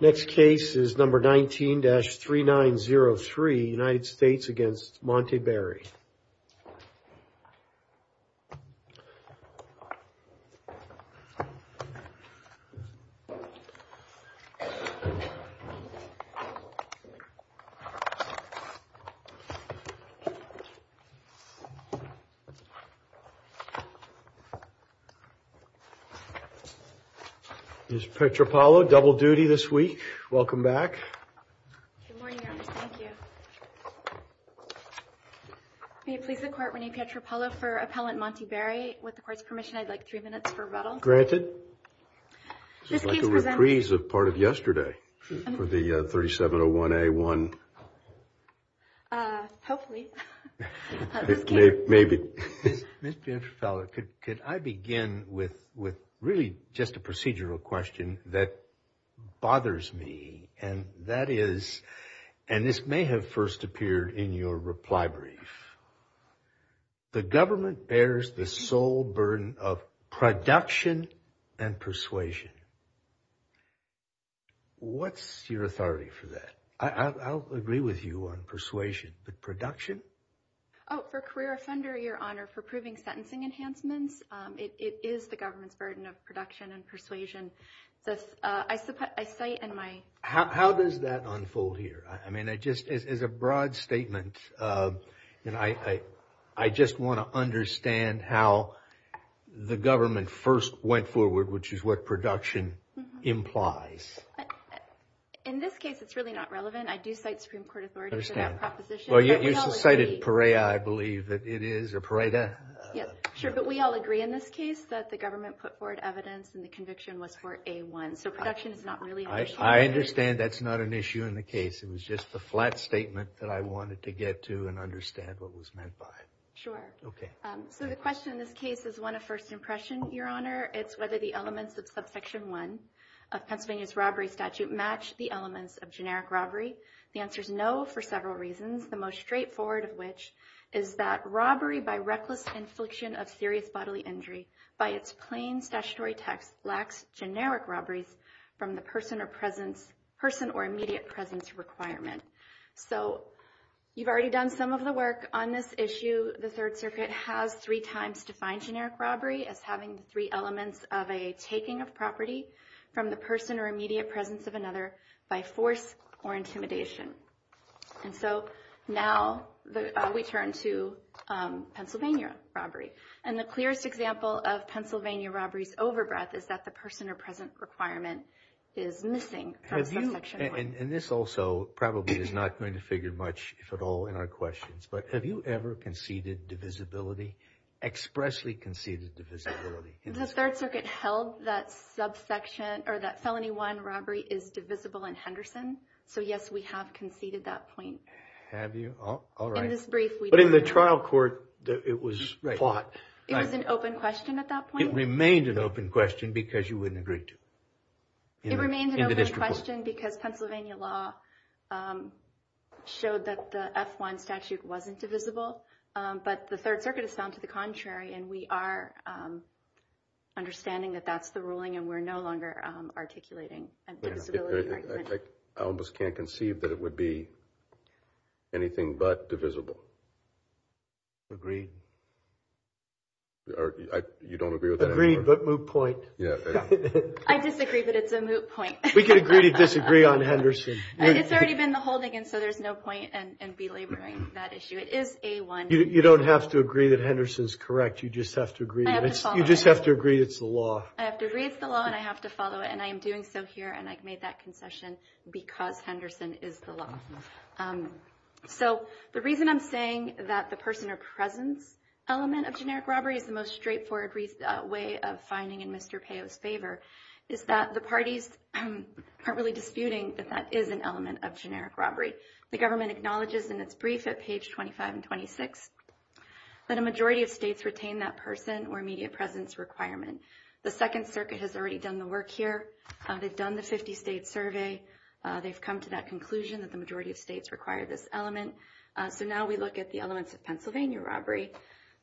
Next case is number 19-3903 United States against Monte Barry. Ms. Petropalo, double duty this week. Welcome back. Good morning, Your Honor. Thank you. May it please the Court, Rene Petropalo for Appellant Monte Barry. With the Court's permission, I'd like three minutes for rebuttal. I'd like a reprise of part of yesterday for the 3701A1. Hopefully. Maybe. Ms. Petropalo, could I begin with really just a procedural question that bothers me and that is, and this may have first appeared in your reply brief, the government bears the sole burden of production and persuasion. What's your authority for that? I'll agree with you on persuasion, but production? Oh, for career offender, Your Honor, for proving sentencing enhancements, it is the government's burden of production and persuasion. I say in my... How does that unfold here? I mean, it just is a broad statement and I just want to understand how the government first went forward, which is what production implies. In this case, it's really not relevant. I do cite Supreme Court authority for that proposition. But we all agree... Well, you cited PEREA, I believe, that it is, or PERETA. Yeah, sure. But we all agree in this case that the government put forward evidence and the conviction was for A1. So production is not really... I understand that's not an issue in the case. It was just the flat statement that I wanted to get to and understand what was meant by it. Sure. Okay. So the question in this case is one of first impression, Your Honor. It's whether the elements of Subsection 1 of Pennsylvania's robbery statute match the elements of generic robbery. The answer is no for several reasons, the most straightforward of which is that robbery by reckless infliction of serious bodily injury by its plain statutory text lacks generic robberies from the person or immediate presence requirement. So you've already done some of the work on this issue. The Third Circuit has three times defined generic robbery as having three elements of a taking of property from the person or immediate presence of another by force or intimidation. And so now we turn to Pennsylvania robbery. And the clearest example of Pennsylvania robbery's overbreath is that the person or present requirement is missing from Subsection 1. And this also probably is not going to figure much, if at all, in our questions. But have you ever conceded divisibility, expressly conceded divisibility? The Third Circuit held that subsection or that Felony 1 robbery is divisible in Henderson. So, yes, we have conceded that point. Have you? All right. In this brief, we don't know. But in the trial court, it was fought. Right. It was an open question at that point. It remained an open question because you wouldn't agree to it in the district court. It remained an open question because Pennsylvania law showed that the F1 statute wasn't divisible. But the Third Circuit has found to the contrary, and we are understanding that that's the ruling and we're no longer articulating a divisibility argument. I almost can't conceive that it would be anything but divisible. Agreed? You don't agree with that? Agreed, but moot point. I disagree, but it's a moot point. We can agree to disagree on Henderson. It's already been the holding, and so there's no point in belaboring that issue. It is A1. You don't have to agree that Henderson's correct. You just have to agree. You just have to agree it's the law. I have to agree it's the law, and I have to follow it, and I am doing so here, and I've made that concession because Henderson is the law. So the reason I'm saying that the person or presence element of generic robbery is the most straightforward way of finding in Mr. Payot's favor is that the parties aren't really disputing that that is an element of generic robbery. The government acknowledges in its brief at page 25 and 26 that a majority of states retain that person or immediate presence requirement. The Second Circuit has already done the work here. They've done the 50-state survey. They've come to that conclusion that the majority of states require this element. So now we look at the elements of Pennsylvania robbery.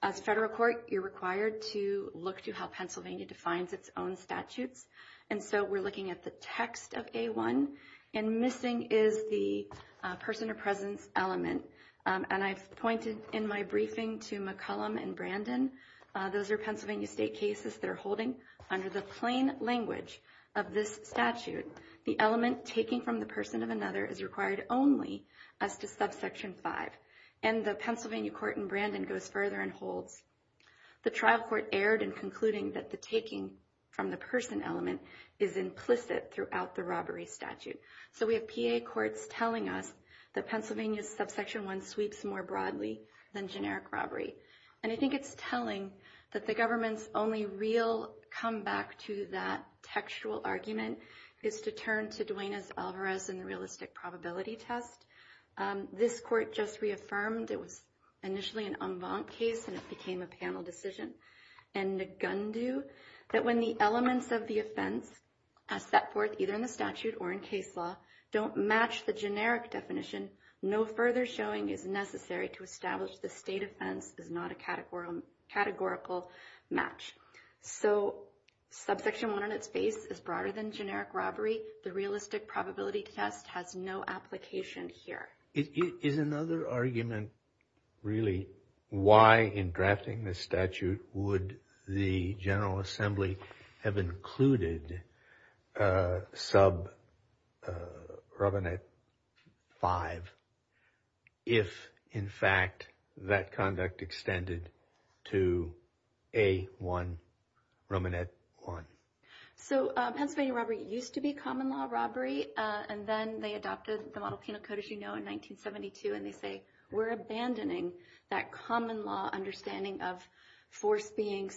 As a federal court, you're required to look to how Pennsylvania defines its own statutes, and so we're looking at the text of A1, and missing is the person or presence element, and I've pointed in my briefing to McCollum and Brandon. Those are Pennsylvania state cases that are holding under the plain language of this statute the element taking from the person of another is required only as to subsection 5, and the Pennsylvania court in Brandon goes further and holds the trial court erred in concluding that the taking from the person element is implicit throughout the robbery statute. So we have PA courts telling us that Pennsylvania's subsection 1 sweeps more broadly than generic robbery, and I think it's telling that the government's only real comeback to that textual argument is to turn to Duenas-Alvarez and the realistic probability test. This court just reaffirmed it was initially an en banc case and it became a panel decision, and Ngundu, that when the elements of the offense are set forth either in the statute or in case law, don't match the generic definition, no further showing is necessary to establish the state offense is not a categorical match. So subsection 1 on its base is broader than generic robbery. The realistic probability test has no application here. Is another argument really why in drafting this statute would the General Assembly have included sub-Romanet 5 if in fact that conduct extended to A1, Romanet 1? So Pennsylvania robbery used to be common law robbery and then they adopted the model penal code as you know in 1972 and they say we're abandoning that common law understanding of force being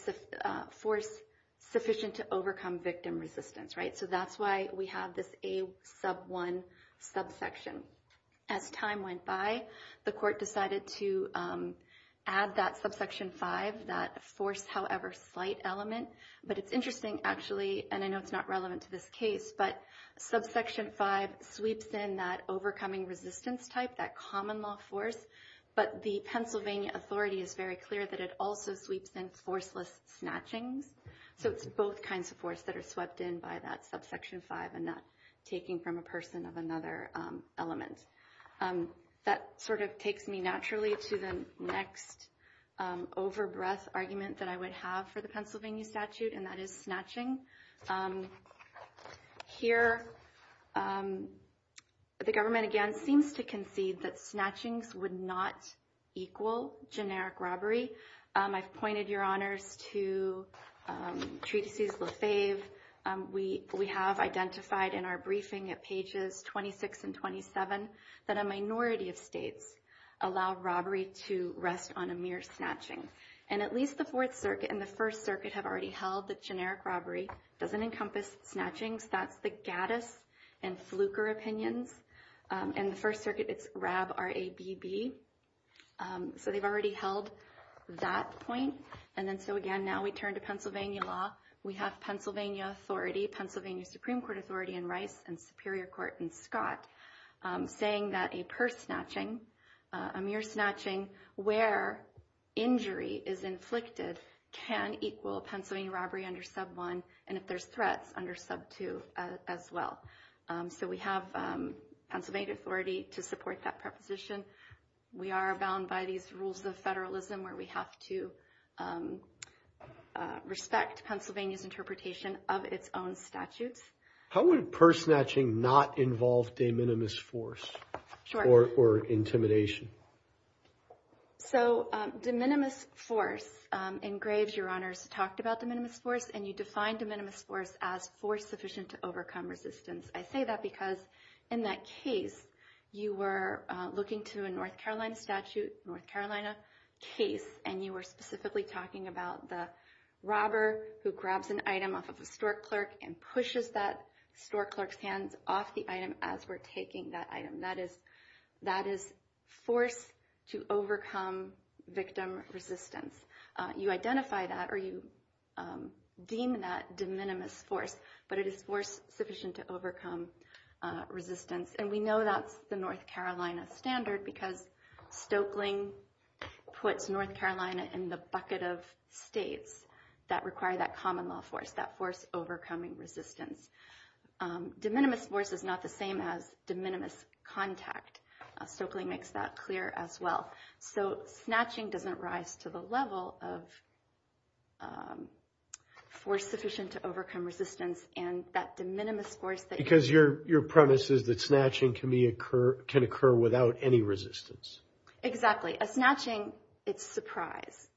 sufficient to overcome victim resistance. So that's why we have this A1 subsection. As time went by, the court decided to add that subsection 5, that force however slight element, but it's interesting actually, and I know it's not relevant to this case, but subsection 5 sweeps in that overcoming resistance type, that common law force, but the Pennsylvania authority is very clear that it also sweeps in forceless snatchings. So it's both kinds of force that are swept in by that subsection 5 and not taking from a person of another element. That sort of takes me naturally to the next over-breath argument that I would have for the Pennsylvania statute and that is snatching. Here the government again seems to concede that snatchings would not equal generic robbery. I've pointed your honors to Treatises Lefebvre. We have identified in our briefing at pages 26 and 27 that a minority of states allow robbery to rest on a mere snatching and at least the Fourth Circuit and the First Circuit have already held that generic robbery doesn't encompass snatchings. That's the Gaddis and Fluker opinions and the First Circuit it's Rab, R-A-B-B. So they've already held that point and then so again now we turn to Pennsylvania law. We have Pennsylvania authority, Pennsylvania Supreme Court authority in Rice and Superior Court in Scott saying that a purse snatching, a mere snatching where injury is inflicted can equal Pennsylvania robbery under sub 1 and if there's threats under sub 2 as well. So we have Pennsylvania authority to support that preposition. We are bound by these rules of federalism where we have to respect Pennsylvania's interpretation of its own statutes. How would purse snatching not involve de minimis force or intimidation? So de minimis force, in Graves your honors talked about de minimis force and you defined de minimis force as force sufficient to overcome resistance. I say that because in that case you were looking to a North Carolina statute, North Carolina case and you were specifically talking about the robber who grabs an item off of a store clerk and pushes that store clerk's hands off the item as we're taking that item. That is force to overcome victim resistance. You identify that or you deem that de minimis force but it is force sufficient to overcome resistance and we know that's the North Carolina standard because Stoeckling puts North Carolina in the bucket of states that require that common law force, that force overcoming resistance. De minimis force is not the same as de minimis contact. Stoeckling makes that clear as well. So snatching doesn't rise to the level of force sufficient to overcome resistance and that de minimis force... Because your premise is that snatching can occur without any resistance. Exactly. A snatching, it's surprise.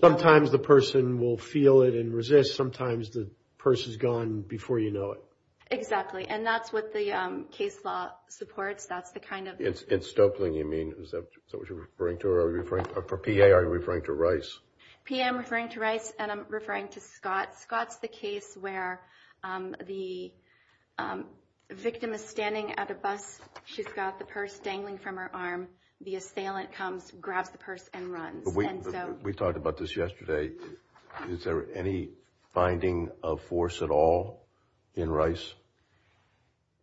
Sometimes the person will feel it and resist. Sometimes the purse is gone before you know it. Exactly and that's what the case law supports. In Stoeckling you mean, is that what you're referring to or for PA are you referring to Rice? PA I'm referring to Rice and I'm referring to Scott. Scott's the case where the victim is standing at a bus. She's got the purse dangling from her arm. The assailant comes, grabs the purse and runs. We talked about this yesterday. Is there any finding of force at all in Rice?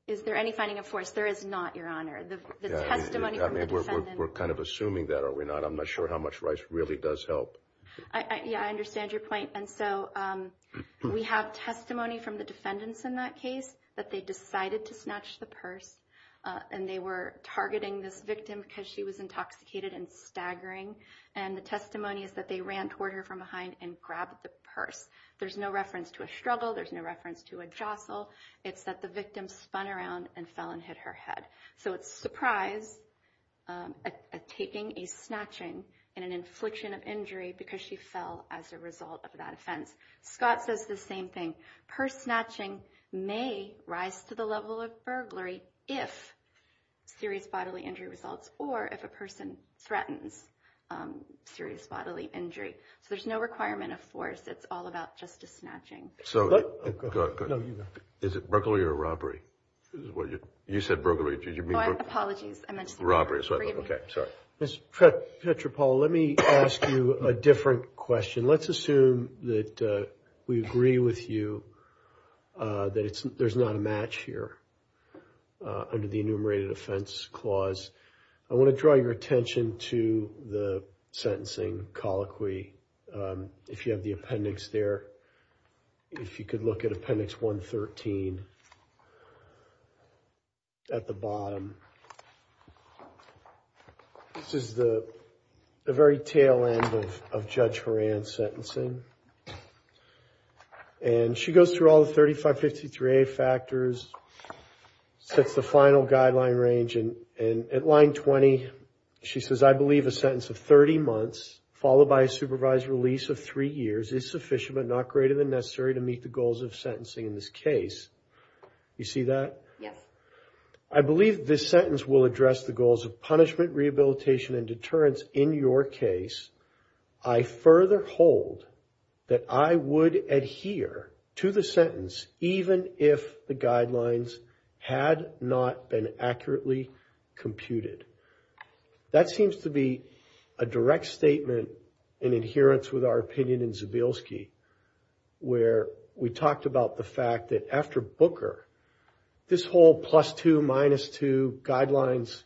Is there any finding of force? There is not, Your Honor. The testimony from the defendant... We're kind of assuming that, are we not? I'm not sure how much Rice really does help. Yeah, I understand your point. We have testimony from the defendants in that case that they decided to snatch the purse and they were targeting this victim because she was intoxicated and staggering and the testimony is that they ran toward her from behind and grabbed the purse. There's no reference to a struggle. There's no reference to a jostle. It's that the victim spun around and fell and hit her head. So it's a surprise taking a snatching and an infliction of injury because she fell as a result of that offense. Scott says the same thing. Purse snatching may rise to the level of burglary if serious bodily injury results or if a person threatens serious bodily injury. So there's no requirement of force. It's all about just a snatching. Is it burglary or robbery? You said burglary. Apologies. Robbery. Ms. Petropaula, let me ask you a different question. Let's assume that we agree with you that there's not a match here under the Enumerated Offense Clause. I want to draw your attention to the sentencing colloquy if you have the appendix there. If you could look at Appendix 113 at the bottom. This is the very tail end of Judge Horan's sentencing. And she goes through all the 3553A factors, sets the final guideline range, and at line 20, she says, I believe a sentence of 30 months followed by a supervised release of 3 years is sufficient but not greater than necessary to meet the goals of sentencing in this case. You see that? I believe this sentence will address the goals of punishment, rehabilitation, and deterrence in your case. I further hold that I would adhere to the sentence even if the guidelines had not been accurately computed. That seems to be a direct statement in adherence with our opinion in Zabilsky where we talked about the fact that after Booker, this whole plus two, minus two guidelines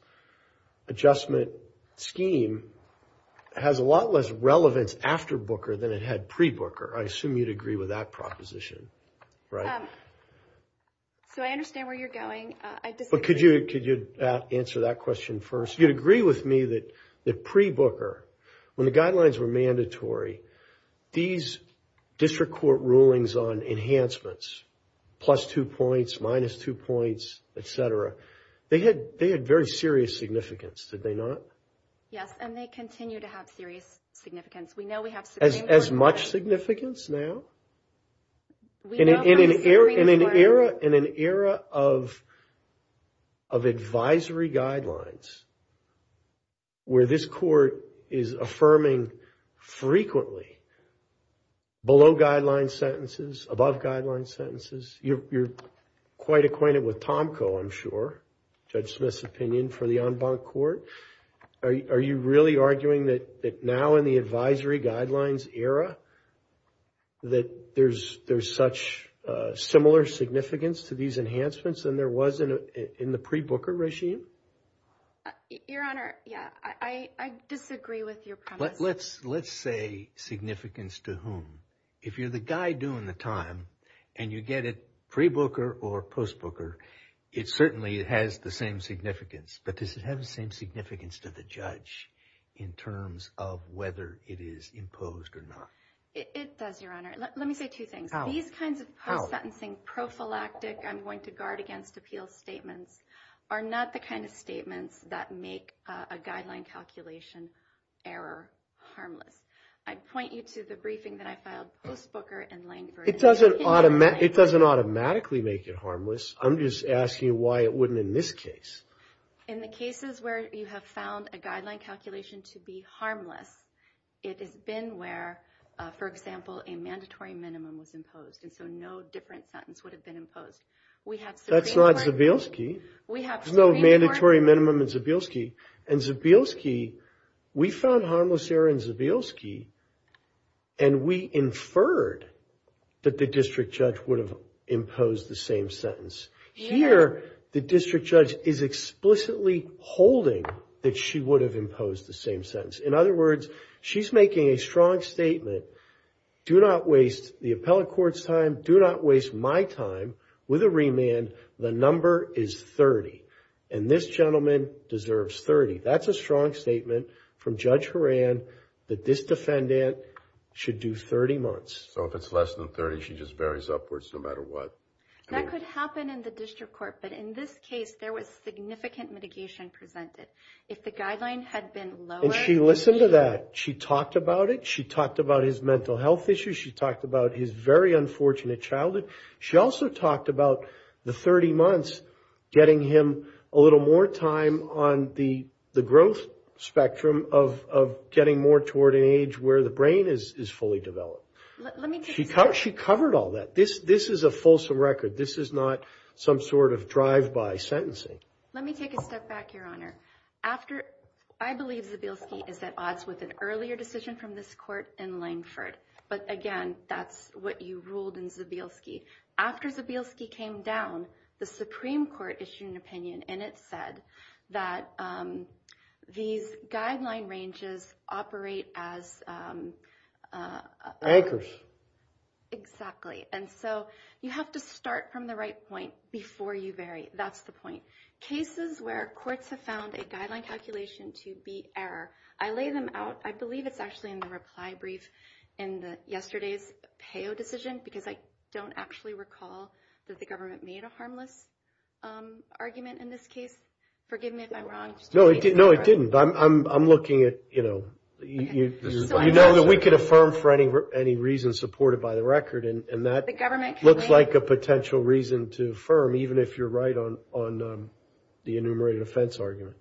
adjustment scheme has a lot less relevance after Booker than it had pre-Booker. I assume you'd agree with that proposition, right? So I understand where you're going. Could you answer that question first? You'd agree with me that pre-Booker, when the guidelines were mandatory, these district court rulings on enhancements, plus two points, minus two points, et cetera, they had very serious significance, did they not? Yes, and they continue to have serious significance. We know we have significant... As much significance now? We know from a series of... In an era of advisory guidelines where this court is affirming frequently below-guideline sentences, above-guideline sentences. You're quite acquainted with Tomco, I'm sure, Judge Smith's opinion for the en banc court. Are you really arguing that now in the advisory guidelines era that there's such similar significance to these enhancements than there was in the pre-Booker regime? Your Honor, yeah, I disagree with your premise. Let's say significance to whom. If you're the guy doing the time and you get it pre-Booker or post-Booker, it certainly has the same significance. But does it have the same significance to the judge in terms of whether it is imposed or not? It does, Your Honor. Let me say two things. These kinds of post-sentencing prophylactic I'm going to guard against appeal statements are not the kind of statements that make a guideline calculation error harmless. I'd point you to the briefing that I filed post-Booker and Langford. It doesn't automatically make it harmless. I'm just asking you why it wouldn't in this case. In the cases where you have found a guideline calculation to be harmless, it has been where, for example, a mandatory minimum was imposed and so no different sentence would have been imposed. That's not Zabielski. There's no mandatory minimum in Zabielski. In Zabielski, we found harmless error in Zabielski and we inferred that the district judge would have imposed the same sentence. Here, the district judge is explicitly holding that she would have imposed the same sentence. In other words, she's making a strong statement, do not waste the appellate court's time, do not waste my time with a remand. The number is 30, and this gentleman deserves 30. That's a strong statement from Judge Horan that this defendant should do 30 months. So if it's less than 30, she just buries upwards no matter what? That could happen in the district court, but in this case, there was significant mitigation presented. If the guideline had been lower... And she listened to that. She talked about it. She talked about his mental health issues. She talked about his very unfortunate childhood. She also talked about the 30 months getting him a little more time on the growth spectrum of getting more toward an age where the brain is fully developed. She covered all that. This is a fulsome record. This is not some sort of drive-by sentencing. Let me take a step back, Your Honor. After... I believe Zabielski is at odds with an earlier decision from this court in Langford. But again, that's what you ruled in Zabielski. After Zabielski came down, the Supreme Court issued an opinion and it said that these guideline ranges operate as anchors. Exactly. And so you have to start from the right point before you vary. That's the point. Cases where courts have found a guideline calculation to be error, I lay them out. I believe it's actually in the reply brief in yesterday's PEO decision because I don't actually recall that the government made a harmless argument in this case. Forgive me if I'm wrong. No, it didn't. I'm looking at, you know... You know that we could affirm for any reason supported by the record and that looks like a potential reason to affirm even if you're right on the enumerated offense argument.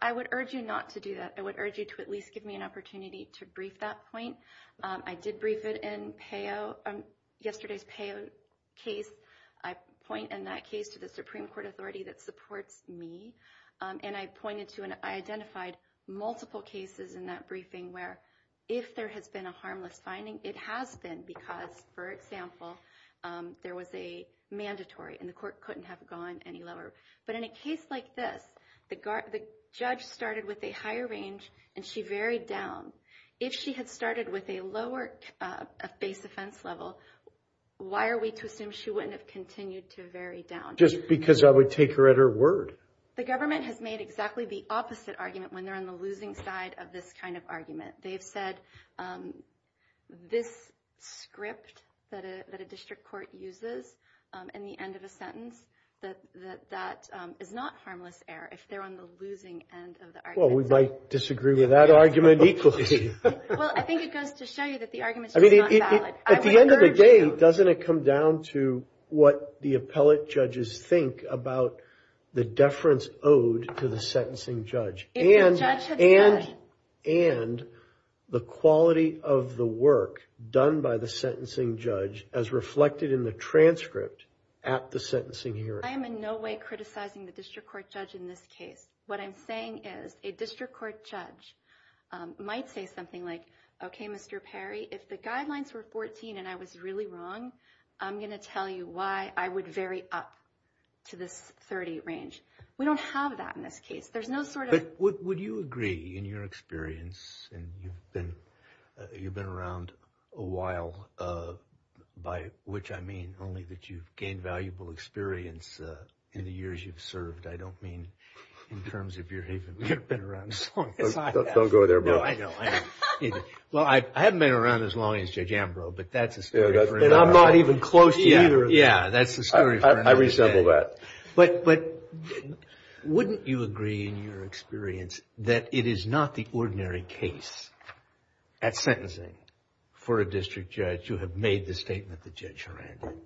I would urge you not to do that. I would urge you to at least give me an opportunity to brief that point. I did brief it in yesterday's PEO case. I point in that case to the Supreme Court authority that supports me and I identified multiple cases in that briefing where if there has been a harmless finding, it has been because, for example, there was a mandatory and the court couldn't have gone any lower. But in a case like this, the judge started with a higher range and she varied down. If she had started with a lower base offense level, why are we to assume she wouldn't have continued to vary down? Just because I would take her at her word. The government has made exactly the opposite argument when they're on the losing side of this kind of argument. They've said this script that a district court uses in the end of a sentence that that is not harmless error if they're on the losing end of the argument. Well, we might disagree with that argument equally. Well, I think it goes to show you that the argument is just not valid. At the end of the day, doesn't it come down to what the appellate judges think about the deference owed to the sentencing judge? And the quality of the work done by the sentencing judge as reflected in the transcript at the sentencing hearing. I am in no way criticizing the district court judge in this case. What I'm saying is a district court judge might say something like, okay, Mr. Perry, if the guidelines were 14 and I was really wrong, I'm going to tell you why I would vary up to this 30 range. We don't have that in this case. There's no sort of... But would you agree in your experience and you've been around a while, by which I mean only that you've gained valuable experience in the years you've served. I don't mean in terms of your... You've been around as long as I have. Don't go there, bro. No, I know. Well, I haven't been around as long as Judge Ambrose, but that's a story for another day. And I'm not even close to either of you. Yeah, that's a story for another day. I resemble that. But wouldn't you agree in your experience that it is not the ordinary case at sentencing for a district judge who had made the statement that Judge Horan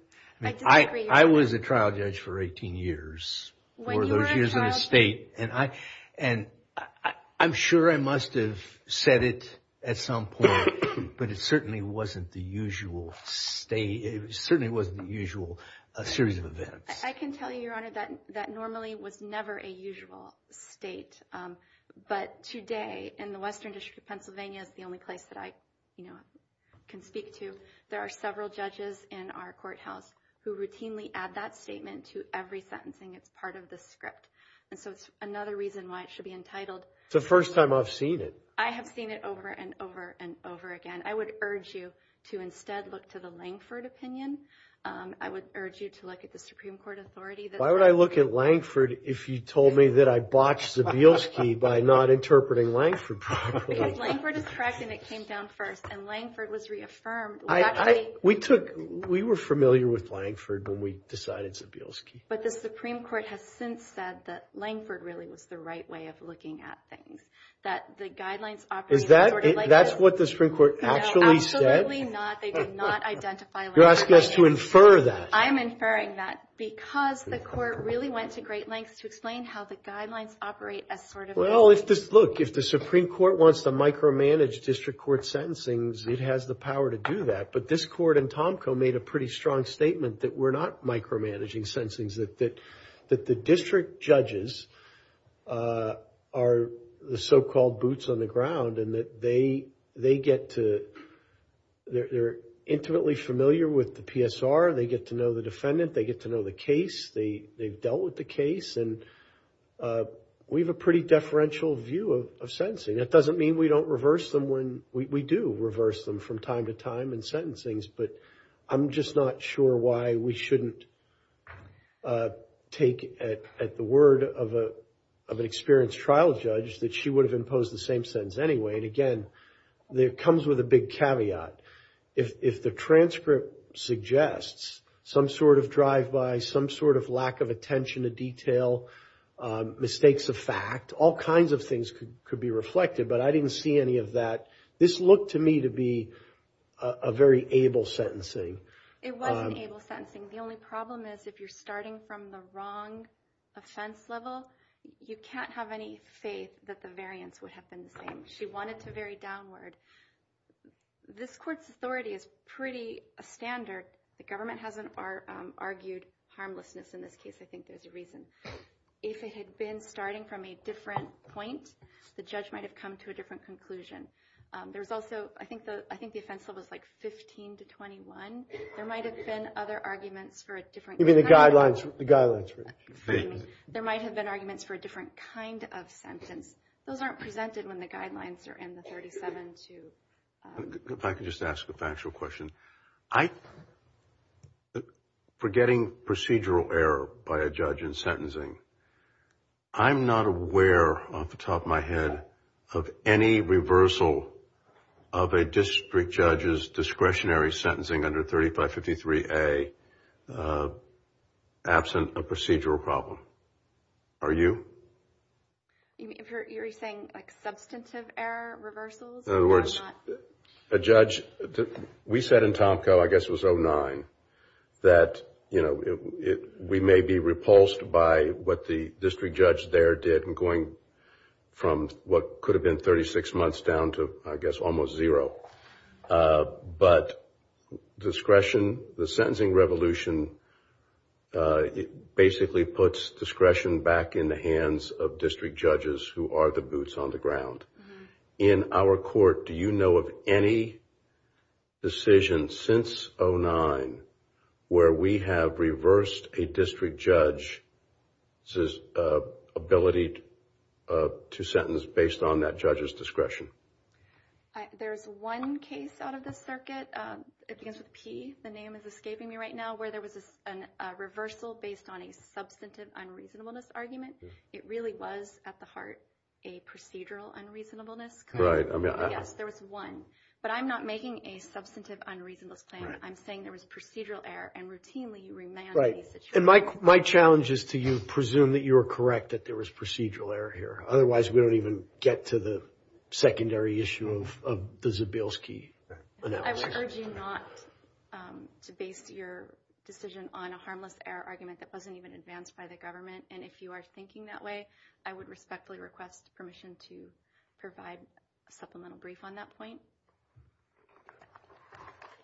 did? I was a trial judge for 18 years. When you were a trial judge... For those years in a state. And I'm sure I must have said it at some point, but it certainly wasn't the usual state. It certainly wasn't the usual series of events. I can tell you, Your Honor, that normally was never a usual state. But today in the Western District of Pennsylvania is the only place that I can speak to. There are several judges in our courthouse who routinely add that statement to every sentencing that's part of the script. And so it's another reason why it should be entitled... It's the first time I've seen it. I have seen it over and over and over again. I would urge you to instead look to the Langford opinion. I would urge you to look at the Supreme Court authority that... Why would I look at Langford if you told me that I botched Zabielski by not interpreting Langford properly? Because Langford is correct and it came down first. And Langford was reaffirmed. We actually... We took... We were familiar with Langford when we decided Zabielski. But the Supreme Court has since said that Langford really was the right way of looking at things. That the guidelines operate as sort of... Is that... That's what the Supreme Court actually said? No, absolutely not. They did not identify Langford. You're asking us to infer that. I'm inferring that because the court really went to great lengths to explain how the guidelines operate as sort of... Well, if this... Look, if the Supreme Court wants to micromanage district court sentencings, it has the power to do that. But this court and Tomko made a pretty strong statement that we're not micromanaging sentencings. That the district judges are the so-called boots on the ground and that they get to... They're intimately familiar with the PSR. They get to know the defendant. They get to know the case. They've dealt with the case. And we have a pretty deferential view of sentencing. That doesn't mean we don't reverse them when... We do reverse them from time to time in sentencings. But I'm just not sure why we don't reverse them and why we shouldn't take at the word of an experienced trial judge that she would have imposed the same sentence anyway. And again, it comes with a big caveat. If the transcript suggests some sort of drive-by, some sort of lack of attention to detail, mistakes of fact, all kinds of things could be reflected. But I didn't see any of that. This looked to me to be a very able sentencing. It was an able sentencing. The only problem is if you're starting from the wrong offense level, you can't have any faith that the variance would have been the same. She wanted to vary downward. This court's authority is pretty standard. The government hasn't argued harmlessness in this case. I think there's a reason. If it had been starting from a different point, the judge might have come to a different conclusion. There's also... I think the offense level is like 15 to 21. There might have been other arguments Even the guidelines... The guidelines for... There might have been arguments for a different kind of sentence. Those aren't presented when the guidelines are in the 37 to... If I could just ask a factual question. I... Forgetting procedural error by a judge in sentencing, I'm not aware off the top of my head of any reversal of a district judge's discretionary sentencing under 3553A absent a procedural problem. Are you? You're saying substantive error, reversals? In other words, a judge... We said in Tomko, I guess it was 09, that we may be repulsed by what the district judge there did in going from what could have been 36 months down to, I guess, almost zero. But discretion, the sentencing revolution, it basically puts discretion back in the hands of district judges who are the boots on the ground. In our court, do you know of any decision since 09 where we have reversed a district judge's ability to sentence based on that judge's discretion? There's one case out of the circuit. It begins with P. The name is escaping me right now, where there was a reversal based on a substantive unreasonableness argument. It really was, at the heart, a procedural unreasonableness. Right. Yes, there was one. But I'm not making a substantive unreasonableness claim. I'm saying there was procedural error and routinely you remand a situation. And my challenge is to you, presume that you are correct, that there was procedural error here. Otherwise, we don't even get to the secondary issue of the Zbilski analysis. I would urge you not to base your decision on a harmless error argument that wasn't even advanced by the government. And if you are thinking that way, I would respectfully request permission to provide a supplemental brief on that point.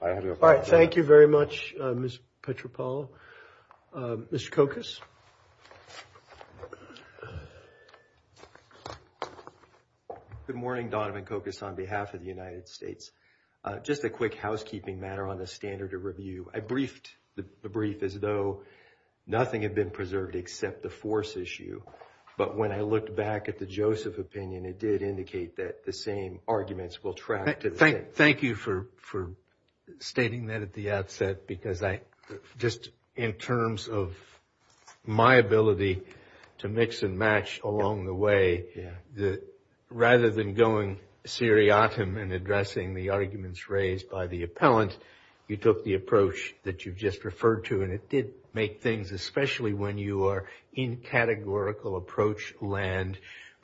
All right. Thank you very much, Ms. Petropoulou. Mr. Kokos. Good morning, Donovan Kokos, on behalf of the United States. Just a quick housekeeping matter on the standard of review. I briefed the brief as though nothing had been preserved except the force issue. But when I looked back at the Joseph opinion, it did indicate that the same arguments will track to the same. Thank you for stating that at the outset, because just in terms of my ability to mix and match along the way, rather than going seriatim and addressing the arguments raised by the appellant, you took the approach that you've just referred to, and it did make things, especially when you are in categorical approach land,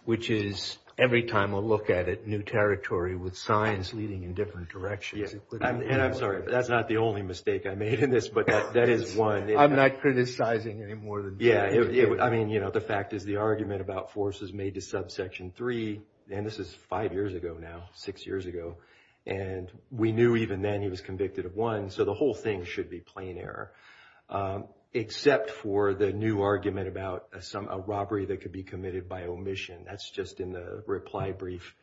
which is every time we'll look at it, new territory with signs leading in different directions. And I'm sorry, that's not the only mistake I made in this, but that is one. I'm not criticizing any more than that. Yeah. I mean, you know, the fact is the argument about forces made to subsection three, and this is five years ago now, six years ago, and we knew even then he was convicted of one, so the whole thing should be plain error, except for the new argument about a robbery that could be committed by omission. That's just in the reply brief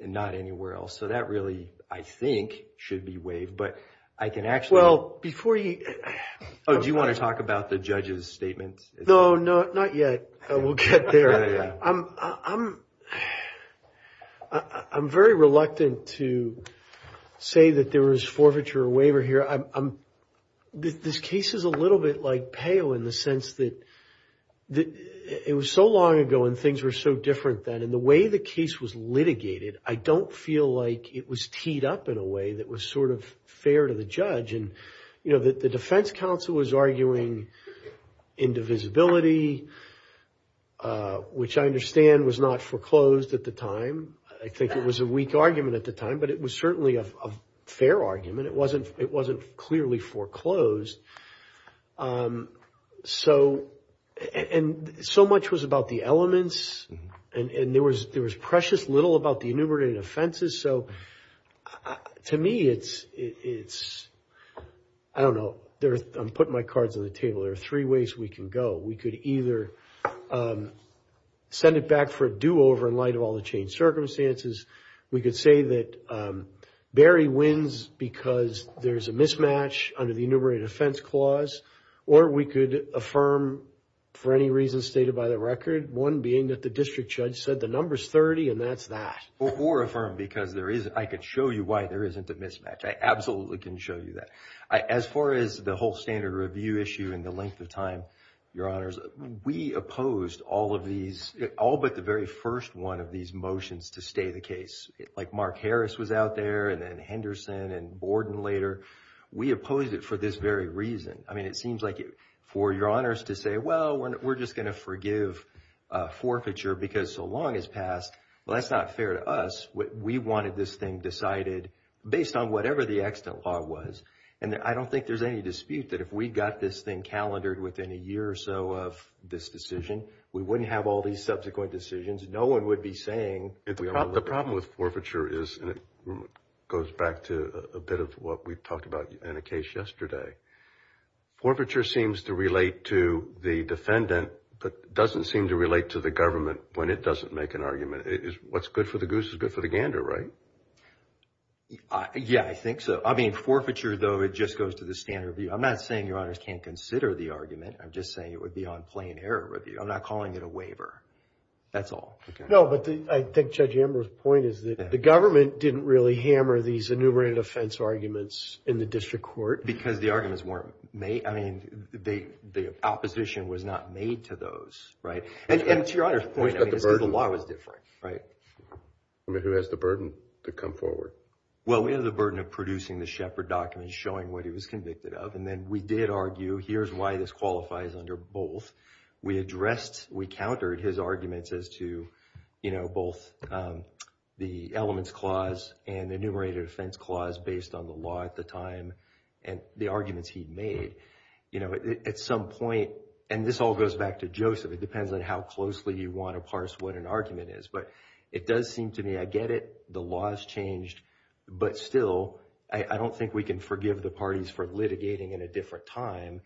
and not anywhere else. So that really, I think, should be waived, but I can actually... Well, before you... Oh, do you want to talk about the judge's statements? No, no, not yet. We'll get there. I'm very reluctant to say that there was forfeiture or waiver here. This case is a little bit like PEO in the sense that it was so long ago and things were so different then, and the way the case was litigated, I don't feel like it was teed up in a way that was sort of fair to the judge. And, you know, the defense counsel was arguing indivisibility, which I understand was not foreclosed at the time. I think it was a weak argument at the time, but it was certainly a fair argument. It wasn't clearly foreclosed. And so much was about the elements, and there was precious little about the enumerated offenses. So to me, it's... I don't know. I'm putting my cards on the table. There are three ways we can go. We could either send it back for a do-over in light of all the changed circumstances. We could say that Barry wins because there's a mismatch under the enumerated offense clause, or we could affirm for any reason stated by the record, one being that the district judge said the number's 30, and that's that. Or affirm because there is... I could show you why there isn't a mismatch. I absolutely can show you that. As far as the whole standard review issue and the length of time, Your Honors, we opposed all of these, all but the very first one of these motions to stay the case. Like Mark Harris was out there, and then Henderson and Borden later. We opposed it for this very reason. I mean, it seems like for Your Honors to say, well, we're just going to forgive forfeiture because so long has passed. Well, that's not fair to us. We wanted this thing decided based on whatever the extant law was. And I don't think there's any dispute that if we got this thing calendared within a year or so of this decision, we wouldn't have all these subsequent decisions. No one would be saying... The problem with forfeiture is, and it goes back to a bit of what we talked about in a case yesterday, forfeiture seems to relate to the defendant, but doesn't seem to relate to the government when it doesn't make an argument. What's good for the goose is good for the gander, right? Yeah, I think so. I mean, forfeiture, though, it just goes to the standard review. I'm not saying Your Honors can't consider the argument. I'm just saying it would be on plain error review. I'm not calling it a waiver. That's all. No, but I think Judge Amber's point is that the government didn't really hammer these enumerated offense arguments in the district court. Because the arguments weren't made. I mean, the opposition was not made to those, right? And to Your Honors' point, I mean, it's because the law was different, right? I mean, who has the burden to come forward? Well, we have the burden of producing the Shepard documents showing what he was convicted of, and then we did argue, here's why this qualifies under both. We addressed, we countered his arguments as to both the elements clause and the enumerated offense clause based on the law at the time and the arguments he'd made. You know, at some point, and this all goes back to Joseph. It depends on how closely you want to parse what an argument is. But it does seem to me, I get it. The law has changed. But still, I don't think we can forgive the parties for litigating in a different time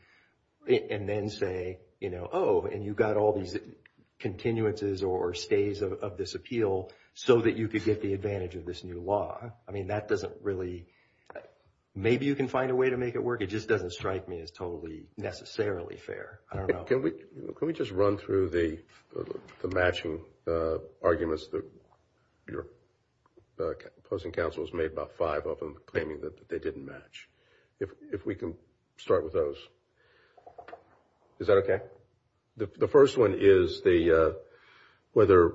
and then say, you know, oh, and you got all these continuances or stays of this appeal so that you could get the advantage of this new law. I mean, that doesn't really, maybe you can find a way to make it work. It just doesn't strike me as totally necessarily fair. I don't know. Can we just run through the matching arguments that your opposing counsel has made, about five of them claiming that they didn't match. If we can start with those. Is that okay? The first one is whether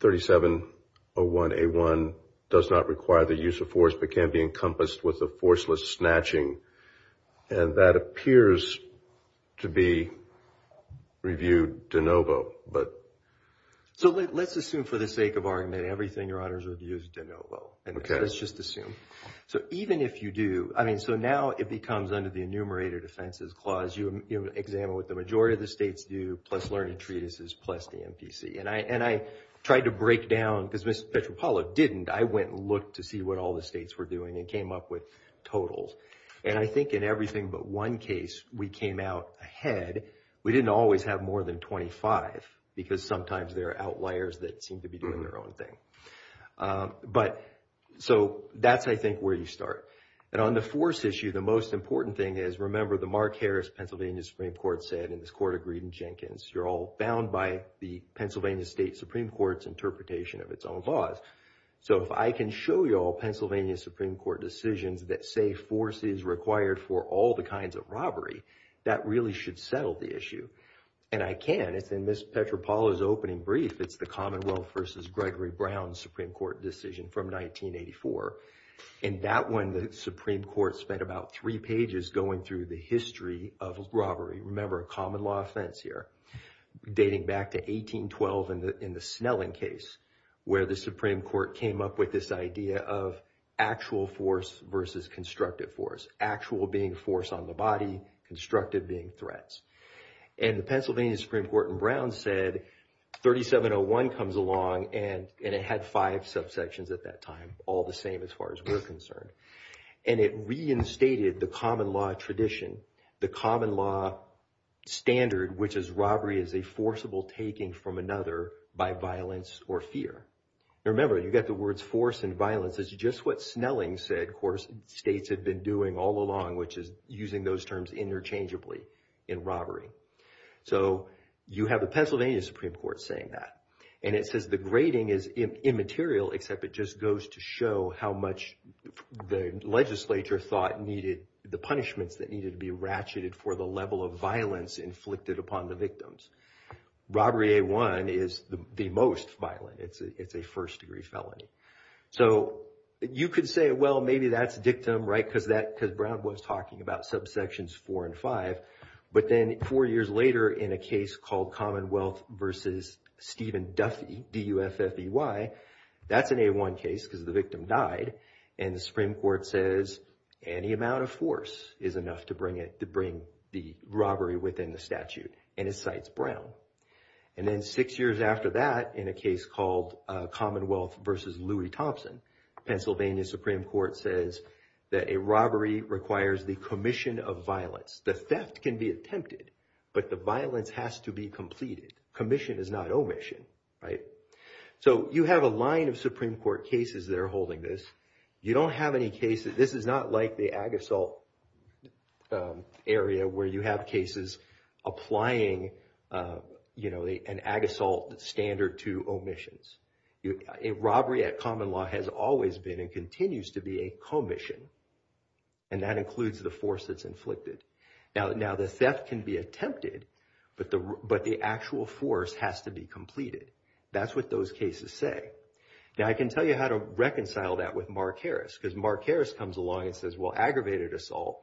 3701A1 does not require the use of force but can be encompassed with a forceless snatching. And that appears to be reviewed de novo. So let's assume for the sake of argument, everything your honor's reviewed is de novo. Let's just assume. So even if you do, I mean, so now it becomes under the enumerated offenses clause, you examine what the majority of the states do, plus learned treatises, plus the MPC. And I tried to break down, because Ms. Petropavlov didn't, I went and looked to see what all the states were doing and came up with totals. And I think in everything but one case, we came out ahead. We didn't always have more than 25 because sometimes there are outliers that seem to be doing their own thing. But so that's, I think, where you start. And on the force issue, the most important thing is, remember, the Mark Harris Pennsylvania Supreme Court said and this court agreed in Jenkins, you're all bound by the Pennsylvania State Supreme Court's interpretation of its own laws. So if I can show you all Pennsylvania Supreme Court decisions that say force is required for all the kinds of robbery, that really should settle the issue. And I can. It's in Ms. Petropavlov's opening brief. It's the Commonwealth versus Gregory Brown Supreme Court decision from 1984. In that one, the Supreme Court spent about three pages going through the history of robbery. Remember, a common law offense here, dating back to 1812 in the Snelling case, where the Supreme Court came up with this idea of actual force versus constructive force. Actual being force on the body, constructive being threats. And the Pennsylvania Supreme Court in Brown said 3701 comes along and it had five subsections at that time, all the same as far as we're concerned. And it reinstated the common law tradition, the common law standard, which is robbery is a forcible taking from another by violence or fear. Remember, you've got the words force and violence. It's just what Snelling said, of course, states had been doing all along, which is using those terms interchangeably in robbery. So you have the Pennsylvania Supreme Court saying that. And it says the grading is immaterial, except it just goes to show how much the legislature thought the punishments that needed to be ratcheted for the level of violence inflicted upon the victims. Robbery A1 is the most violent. It's a first degree felony. So you could say, well, maybe that's dictum, right? Because Brown was talking about subsections four and five. But then four years later, in a case called Commonwealth versus Stephen Duffy, D-U-F-F-E-Y, that's an A1 case because the victim died. And the Supreme Court says any amount of force is enough to bring the robbery within the statute. And it cites Brown. And then six years after that, in a case called Commonwealth versus Louis Thompson, Pennsylvania Supreme Court says that a robbery requires the commission of violence. The theft can be attempted, but the violence has to be completed. Commission is not omission, right? So you have a line of Supreme Court cases that are holding this. You don't have any cases. This is not like the ag assault area where you have cases applying, you know, an ag assault standard to omissions. A robbery at common law has always been and continues to be a commission. And that includes the force that's inflicted. Now the theft can be attempted, but the actual force has to be completed. That's what those cases say. Now I can tell you how to reconcile that with Mark Harris because Mark Harris comes along and says, well, aggravated assault,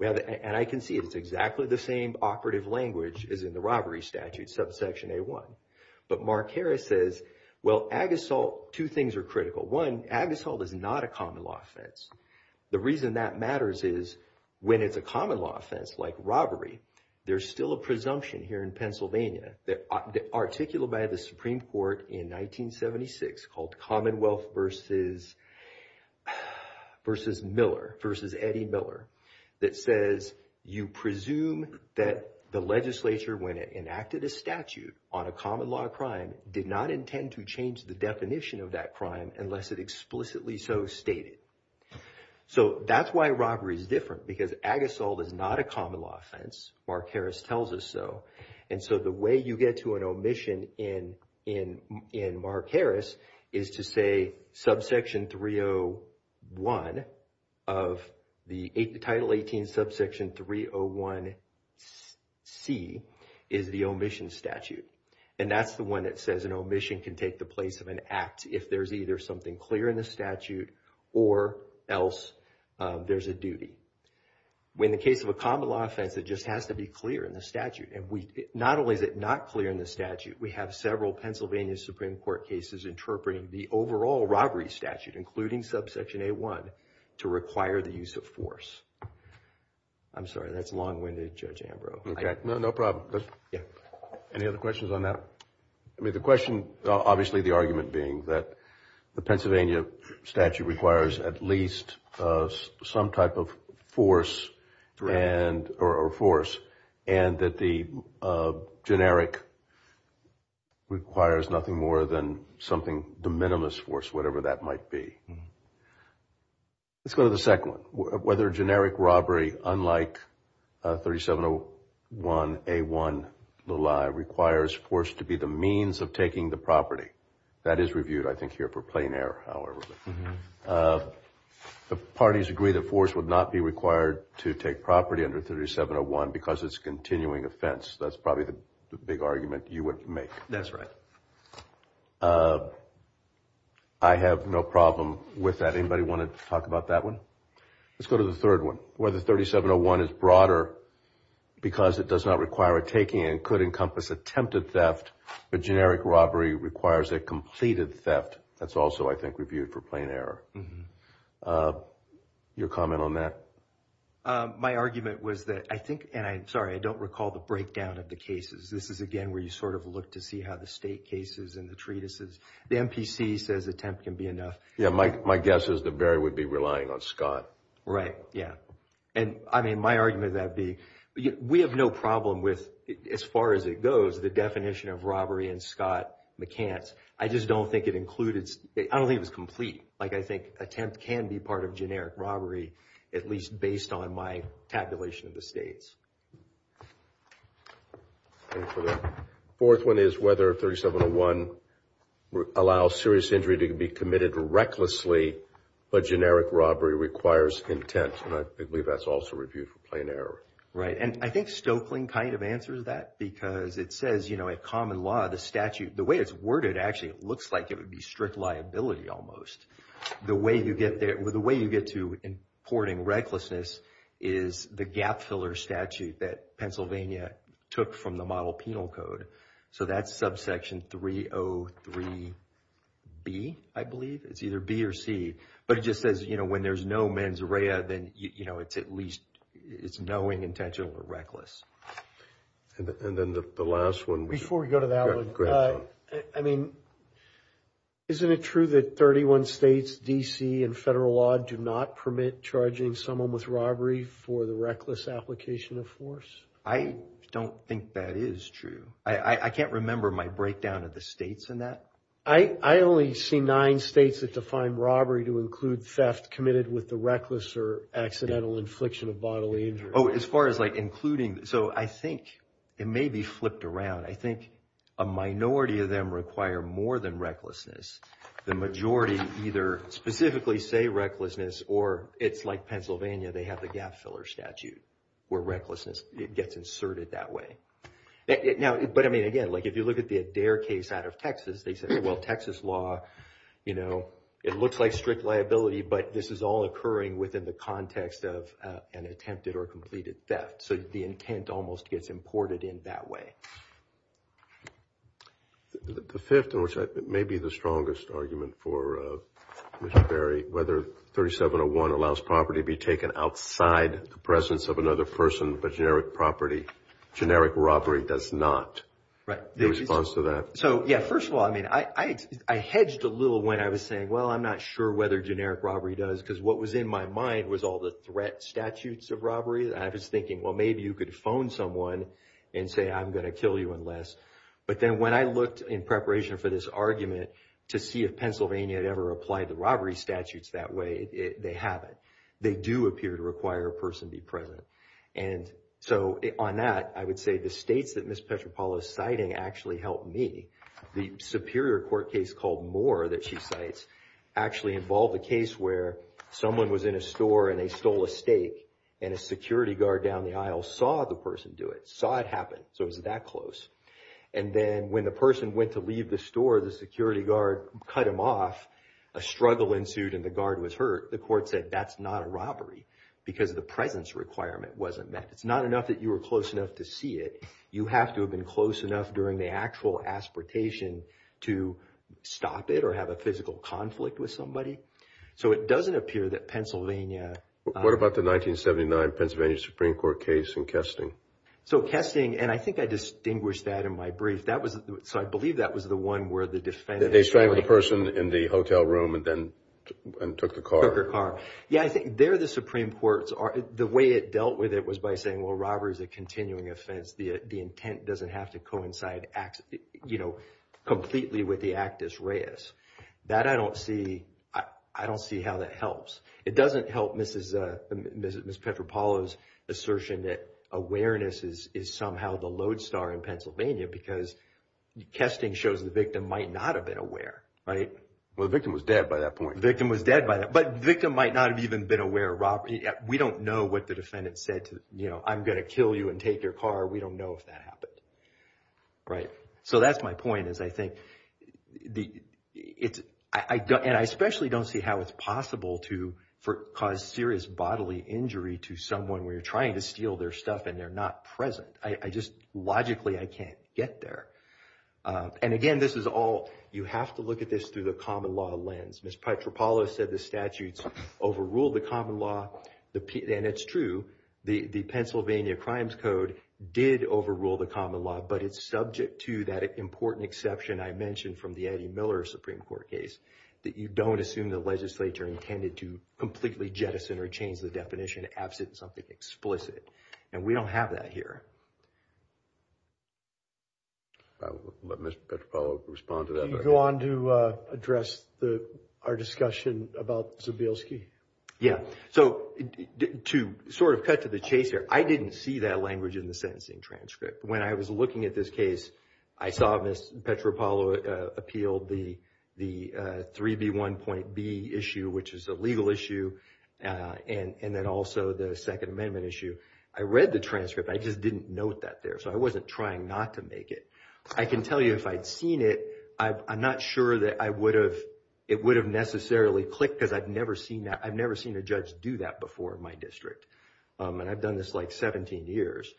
and I can see it's exactly the same operative language as in the robbery statute, subsection A1. But Mark Harris says, well, ag assault, two things are critical. One, ag assault is not a common law offense. The reason that matters is when it's a common law offense like robbery, there's still a presumption here in Pennsylvania that articulated by the Supreme Court in 1976 called Commonwealth versus Miller versus Eddie Miller that says you presume that the legislature when it enacted a statute on a common law crime did not intend to change the definition of that crime unless it explicitly so stated. So that's why robbery is different because ag assault is not a common law offense. Mark Harris tells us so. And so the way you get to an omission in Mark Harris is to say subsection 301 of the Title 18 subsection 301C is the omission statute. And that's the one that says an omission can take the place of an act if there's either something clear in the statute or else there's a duty. In the case of a common law offense, it just has to be clear in the statute. And not only is it not clear in the statute, we have several Pennsylvania Supreme Court cases interpreting the overall robbery statute, including subsection A1, to require the use of force. I'm sorry, that's long-winded, Judge Ambrose. No, no problem. Any other questions on that? I mean, the question, obviously the argument being that the Pennsylvania statute requires at least some type of force and that the generic requires nothing more than something, the minimalist force, whatever that might be. Let's go to the second one. Whether generic robbery, unlike 3701A1, requires force to be the means of taking the property. That is reviewed, I think, here for plain error, however. The parties agree that force would not be required to take property under 3701 because it's a continuing offense. That's probably the big argument you would make. That's right. I have no problem with that. Anybody want to talk about that one? Let's go to the third one. Whether 3701 is broader because it does not require a taking and could encompass attempted theft, but generic robbery requires a completed theft. That's also, I think, reviewed for plain error. Your comment on that? My argument was that I think, and I'm sorry, I don't recall the breakdown of the cases. This is, again, where you sort of look to see how the state cases and the treatises. The MPC says attempt can be enough. Yeah, my guess is that Barry would be relying on Scott. Right, yeah. And, I mean, my argument of that being, we have no problem with, as far as it goes, the definition of robbery and Scott McCants. I just don't think it included, I don't think it was complete. I think attempt can be part of generic robbery, at least based on my tabulation of the states. The fourth one is whether 3701 allows serious injury to be committed recklessly, but generic robbery requires intent. I believe that's also reviewed for plain error. Right, and I think Stoeckling kind of answers that because it says, you know, in common law, the statute, the way it's worded, actually, it looks like it would be strict liability almost. The way you get to importing recklessness is the gap filler statute that Pennsylvania took from the model penal code. So that's subsection 303B, I believe. It's either B or C. But it just says, you know, when there's no mens rea, then, you know, it's at least, it's knowing, intentional, or reckless. And then the last one. Before we go to that one, I mean, isn't it true that 31 states, D.C., and federal law do not permit charging someone with robbery for the reckless application of force? I don't think that is true. I can't remember my breakdown of the states in that. I only see nine states that define robbery to include theft committed with the reckless or accidental infliction of bodily injury. Oh, as far as like including, so I think it may be flipped around. I think a minority of them require more than recklessness. The majority either specifically say recklessness or it's like Pennsylvania, they have the gap filler statute where recklessness gets inserted that way. Now, but I mean, again, like if you look at the Adair case out of Texas, they said, well, Texas law, you know, it looks like strict liability, but this is all occurring within the context of an attempted or completed theft. So the intent almost gets imported in that way. The fifth, and which may be the strongest argument for Mr. Berry, whether 3701 allows property to be taken outside the presence of another person, but generic property, generic robbery does not. Right. Your response to that. So, yeah, first of all, I mean, I hedged a little when I was saying, well, I'm not sure whether generic robbery does, because what was in my mind was all the threat statutes of robbery. And I was thinking, well, maybe you could phone someone and say, I'm going to kill you unless, but then when I looked in preparation for this argument to see if Pennsylvania had ever applied the robbery statutes that way, they haven't. They do appear to require a person be present. And so on that, I would say the states that Ms. Petropaulo is citing actually helped me. The superior court case called Moore that she cites actually involved a case where someone was in a store and they stole a stake and a security guard down the aisle saw the person do it, saw it happen. So it was that close. And then when the person went to leave the store, the security guard cut him off, a struggle ensued and the guard was hurt. The court said, that's not a robbery because the presence requirement wasn't met. It's not enough that you were close enough to see it. You have to have been close enough during the actual aspiration to stop it or have a physical conflict with somebody. So it doesn't appear that Pennsylvania... What about the 1979 Pennsylvania Supreme Court case in Kesting? So Kesting, and I think I distinguished that in my brief. So I believe that was the one where the defendant... They strangled the person in the hotel room and then took the car. Yeah, I think there the Supreme Courts, the way it dealt with it was by saying, well, robbery is a continuing offense. The intent doesn't have to coincide, completely with the actus reus. That I don't see. I don't see how that helps. It doesn't help Ms. Petropalo's assertion that awareness is somehow the lodestar in Pennsylvania because Kesting shows the victim might not have been aware. Well, the victim was dead by that point. The victim was dead by that. But the victim might not have even been aware of robbery. We don't know what the defendant said to... I'm going to kill you and take your car. We don't know if that happened. Right. So that's my point is I think... And I especially don't see how it's possible to cause serious bodily injury to someone where you're trying to steal their stuff and they're not present. I just logically I can't get there. And again, this is all... You have to look at this through the common law lens. Ms. Petropalo said the statutes overrule the common law. And it's true. The Pennsylvania Crimes Code did overrule the common law, but it's subject to that important exception I mentioned from the Eddie Miller Supreme Court case that you don't assume the legislature intended to completely jettison or change the definition absent something explicit. And we don't have that here. I'll let Ms. Petropalo respond to that. Can you go on to address our discussion about Zubilski? Yeah. So to sort of cut to the chase here, I didn't see that language in the sentencing transcript. When I was looking at this case, I saw Ms. Petropalo appealed the 3B1.B issue, which is a legal issue, and then also the Second Amendment issue. I read the transcript. I just didn't note that there. So I wasn't trying not to make it. I can tell you if I'd seen it, I'm not sure that it would have necessarily clicked because I've never seen that. I've never seen a judge do that before in my district. And I've done this like 17 years.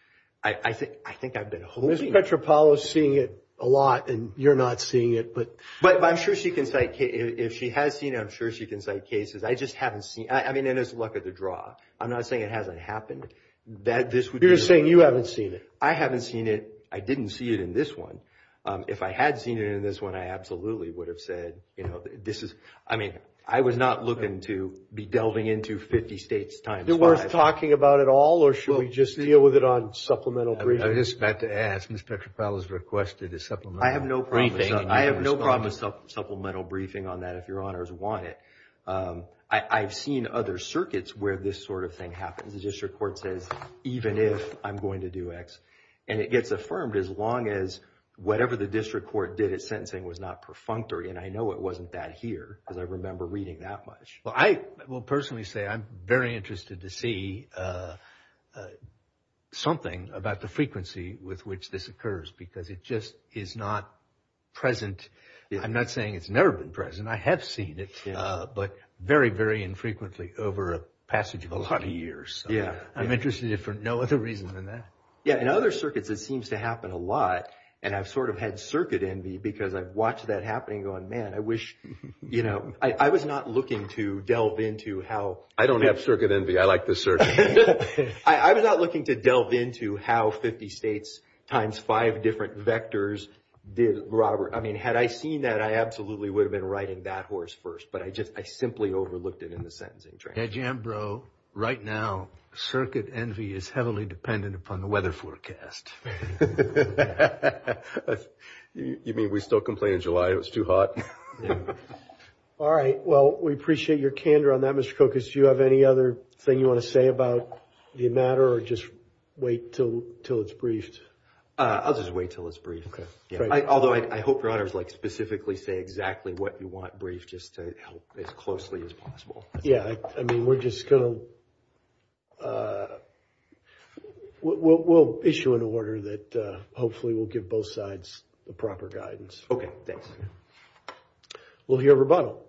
I think I've been hoping... Ms. Petropalo is seeing it a lot, and you're not seeing it, but... But I'm sure she can cite cases. If she has seen it, I'm sure she can cite cases. I just haven't seen it. I mean, and it's luck of the draw. I'm not saying it hasn't happened. You're saying you haven't seen it. I haven't seen it. I didn't see it in this one. If I had seen it in this one, I absolutely would have said, you know, this is... I mean, I was not looking to be delving into 50 states times five. Is it worth talking about at all, or should we just deal with it on supplemental briefing? I was just about to ask. Ms. Petropalo has requested a supplemental briefing. I have no problem with supplemental briefing on that if your honors want it. I've seen other circuits where this sort of thing happens. The district court says, even if I'm going to do X. And it gets affirmed as long as whatever the district court did at sentencing was not perfunctory. And I know it wasn't that here because I remember reading that much. Well, I will personally say I'm very interested to see something about the frequency with which this occurs because it just is not present. I'm not saying it's never been present. I have seen it, but very, very infrequently over a passage of a lot of years. Yeah. I'm interested in it for no other reason than that. Yeah, in other circuits it seems to happen a lot. And I've sort of had circuit envy because I've watched that happening going, man, I wish, you know. I was not looking to delve into how. I don't have circuit envy. I like the circuit. I was not looking to delve into how 50 states times five different vectors did Robert. I mean, had I seen that, I absolutely would have been riding that horse first. But I just, I simply overlooked it in the sentencing training. Yeah, Jim, bro, right now, circuit envy is heavily dependent upon the weather forecast. You mean we still complain in July it was too hot? Yeah. All right. Well, we appreciate your candor on that, Mr. Kokos. Do you have any other thing you want to say about the matter or just wait until it's briefed? I'll just wait until it's briefed. Okay. Although I hope your honors like specifically say exactly what you want briefed just to help as closely as possible. Yeah. I mean, we're just going to, we'll issue an order that hopefully will give both sides the proper guidance. Okay. Thanks. We'll hear rebuttal.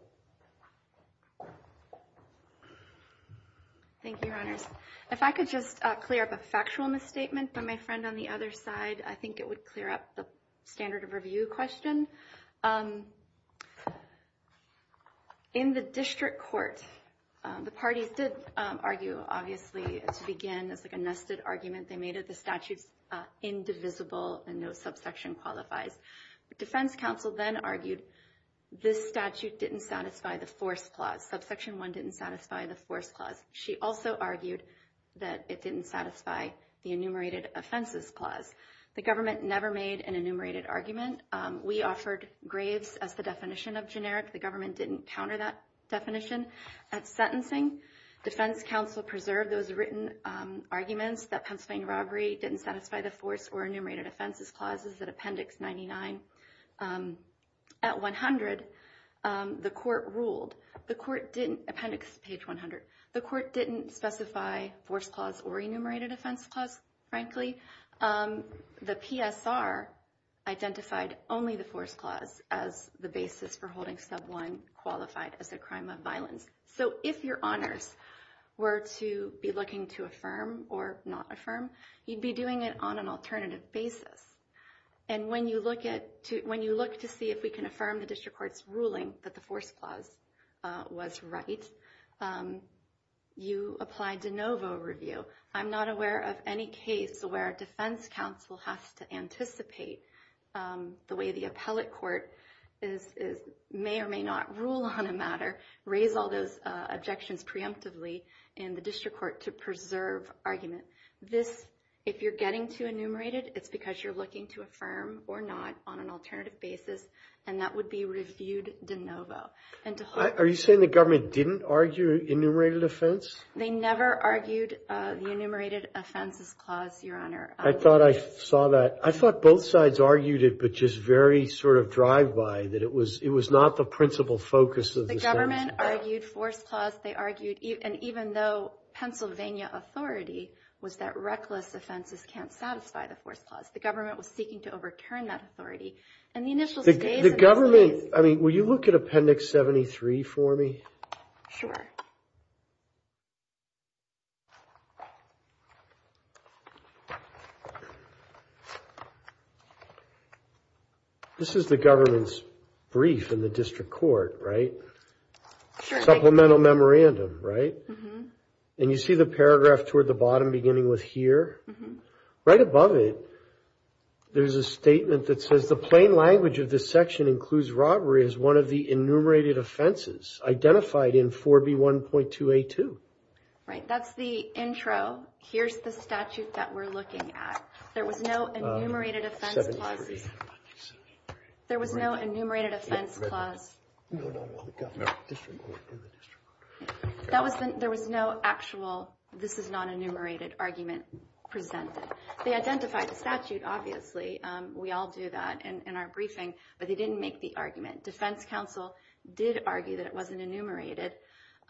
Thank you, your honors. If I could just clear up a factual misstatement by my friend on the other side, I think it would clear up the standard of review question. In the district court, the parties did argue, obviously, to begin, it's like a nested argument. They made it the statute's indivisible and no subsection qualifies. The defense counsel then argued this statute didn't satisfy the force clause. Subsection 1 didn't satisfy the force clause. She also argued that it didn't satisfy the enumerated offenses clause. The government never made an enumerated argument. We offered graves as the definition of generic. The government didn't counter that definition. At sentencing, defense counsel preserved those written arguments that Pennsylvania robbery didn't satisfy the force or enumerated offenses clauses at appendix 99. At 100, the court ruled, appendix page 100, the court didn't specify force clause or enumerated offense clause, frankly. The PSR identified only the force clause as the basis for holding sub 1 qualified as a crime of violence. So if your honors were to be looking to affirm or not affirm, you'd be doing it on an alternative basis. And when you look to see if we can affirm the district court's ruling that the force clause was right, you apply de novo review. I'm not aware of any case where a defense counsel has to anticipate the way the appellate court may or may not rule on a matter, raise all those objections preemptively in the district court to preserve argument. This, if you're getting to enumerated, it's because you're looking to affirm or not on an alternative basis, and that would be reviewed de novo. Are you saying the government didn't argue enumerated offense? They never argued the enumerated offenses clause, your honor. I thought I saw that. I thought both sides argued it, but just very sort of drive by that it was it was not the principal focus of the government. I argued force clause. They argued. And even though Pennsylvania authority was that reckless offenses can't satisfy the force clause, the government was seeking to overturn that authority and the initial state government. I mean, will you look at appendix 73 for me? Sure. This is the government's brief in the district court, right? Supplemental memorandum, right? And you see the paragraph toward the bottom beginning with here, right above it. There's a statement that says the plain language of this section includes robbery as one of the enumerated offenses identified in 4B1.282. Right. That's the intro. Here's the statute that we're looking at. There was no enumerated offense clauses. There was no enumerated offense clause. That was there was no actual. This is not enumerated argument presented. They identified the statute. Obviously we all do that in our briefing, but they didn't make the argument. Defense counsel did argue that it wasn't enumerated.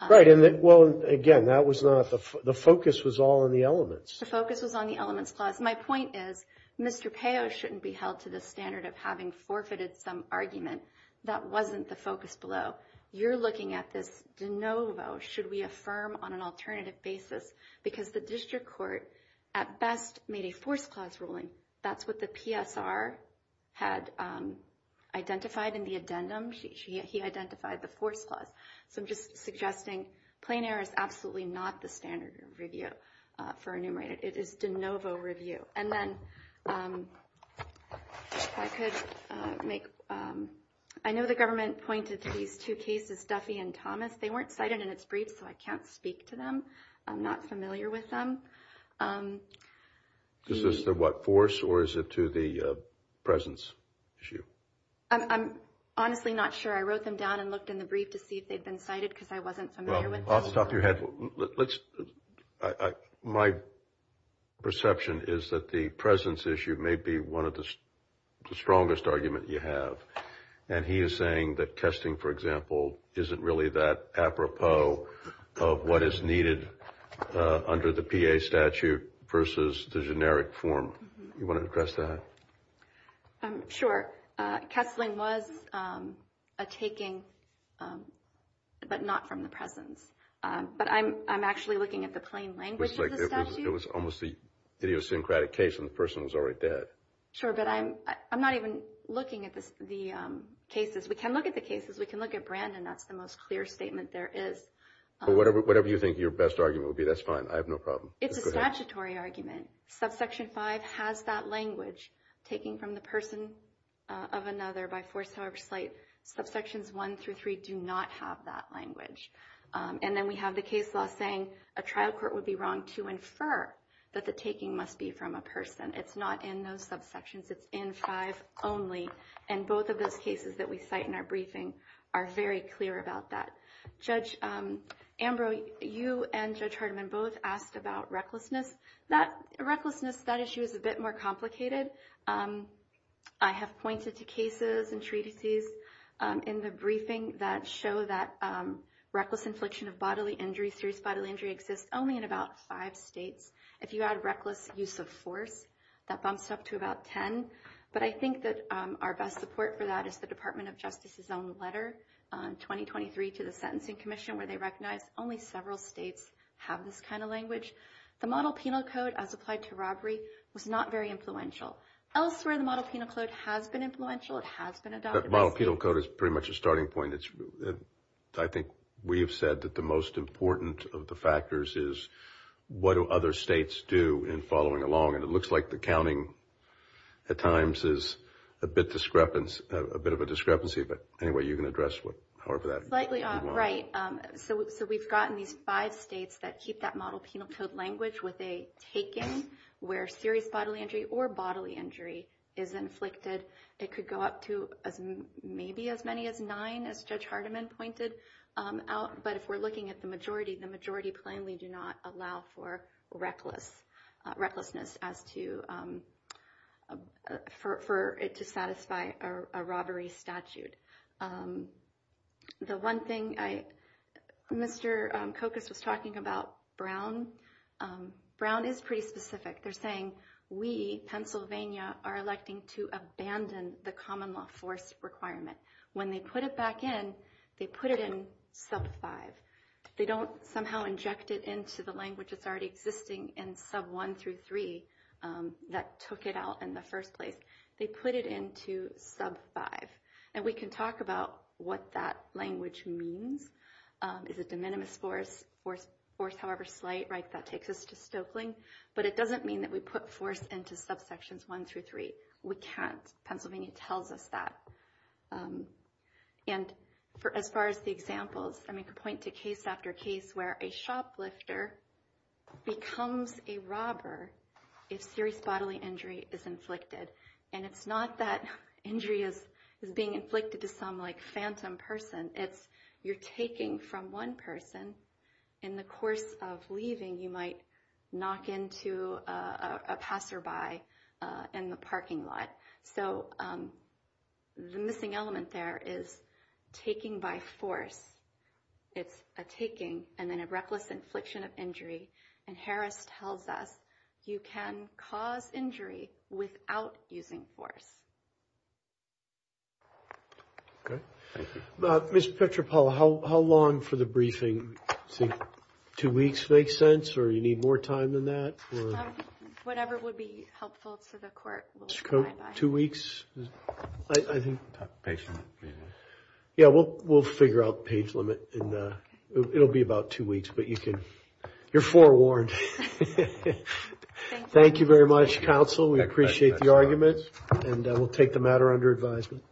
Right. Well, again, that was not. The focus was all in the elements. The focus was on the elements clause. My point is Mr. Peo shouldn't be held to the standard of having forfeited some argument. That wasn't the focus below. You're looking at this de novo. Should we affirm on an alternative basis? Because the district court at best made a force clause ruling. That's what the PSR had identified in the addendum. He identified the force clause. So I'm just suggesting plain air is absolutely not the standard review for enumerated. It is de novo review. And then I could make. I know the government pointed to these two cases, Duffy and Thomas. They weren't cited in its brief, so I can't speak to them. I'm not familiar with them. Is this the what force or is it to the presence issue? I'm honestly not sure. I wrote them down and looked in the brief to see if they'd been cited because I wasn't familiar with. Off the top of your head. Let's. My perception is that the presence issue may be one of the strongest argument you have. And he is saying that testing, for example, isn't really that apropos of what is needed under the P.A. statute versus the generic form. You want to address that? I'm sure Kessling was a taking, but not from the presence. But I'm I'm actually looking at the plain language. It was almost the idiosyncratic case and the person was already dead. Sure, but I'm I'm not even looking at the cases. We can look at the cases. We can look at Brandon. That's the most clear statement there is. But whatever whatever you think your best argument would be, that's fine. I have no problem. It's a statutory argument. Subsection five has that language taking from the person of another by force. However, slight subsections one through three do not have that language. And then we have the case law saying a trial court would be wrong to infer that the taking must be from a person. It's not in those subsections. It's in five only. And both of those cases that we cite in our briefing are very clear about that. Judge Ambrose, you and Judge Hardeman both asked about recklessness. That recklessness, that issue is a bit more complicated. I have pointed to cases and treatises in the briefing that show that reckless infliction of bodily injury, serious bodily injury, exists only in about five states. If you add reckless use of force, that bumps it up to about ten. But I think that our best support for that is the Department of Justice's own letter in 2023 to the Sentencing Commission where they recognize only several states have this kind of language. The model penal code as applied to robbery was not very influential. Elsewhere, the model penal code has been influential. It has been adopted. Model penal code is pretty much a starting point. I think we have said that the most important of the factors is what do other states do in following along. And it looks like the counting at times is a bit of a discrepancy. But anyway, you can address however that you want. Right. So we've gotten these five states that keep that model penal code language with a taking where serious bodily injury or bodily injury is inflicted. It could go up to maybe as many as nine, as Judge Hardiman pointed out. But if we're looking at the majority, the majority plainly do not allow for recklessness as to for it to satisfy a robbery statute. The one thing I, Mr. Cocos was talking about Brown. Brown is pretty specific. They're saying we, Pennsylvania, are electing to abandon the common law force requirement. When they put it back in, they put it in sub five. They don't somehow inject it into the language that's already existing in sub one through three that took it out in the first place. They put it into sub five. And we can talk about what that language means is a de minimis force or force. However, slight right. That takes us to Stokeling. But it doesn't mean that we put force into subsections one through three. We can't. Pennsylvania tells us that. And for as far as the examples, I make a point to case after case where a shoplifter becomes a robber if serious bodily injury is inflicted. And it's not that injury is being inflicted to some, like, phantom person. It's you're taking from one person. In the course of leaving, you might knock into a passerby in the parking lot. So the missing element there is taking by force. It's a taking and then a reckless infliction of injury. And Harris tells us you can cause injury without using force. Mr. Petropoulos, how long for the briefing? Two weeks makes sense. Or you need more time than that. Whatever would be helpful to the court. Two weeks. I think. Yeah, we'll we'll figure out page limit. It'll be about two weeks, but you can. You're forewarned. Thank you very much, counsel. We appreciate the argument. And we'll take the matter under advisement.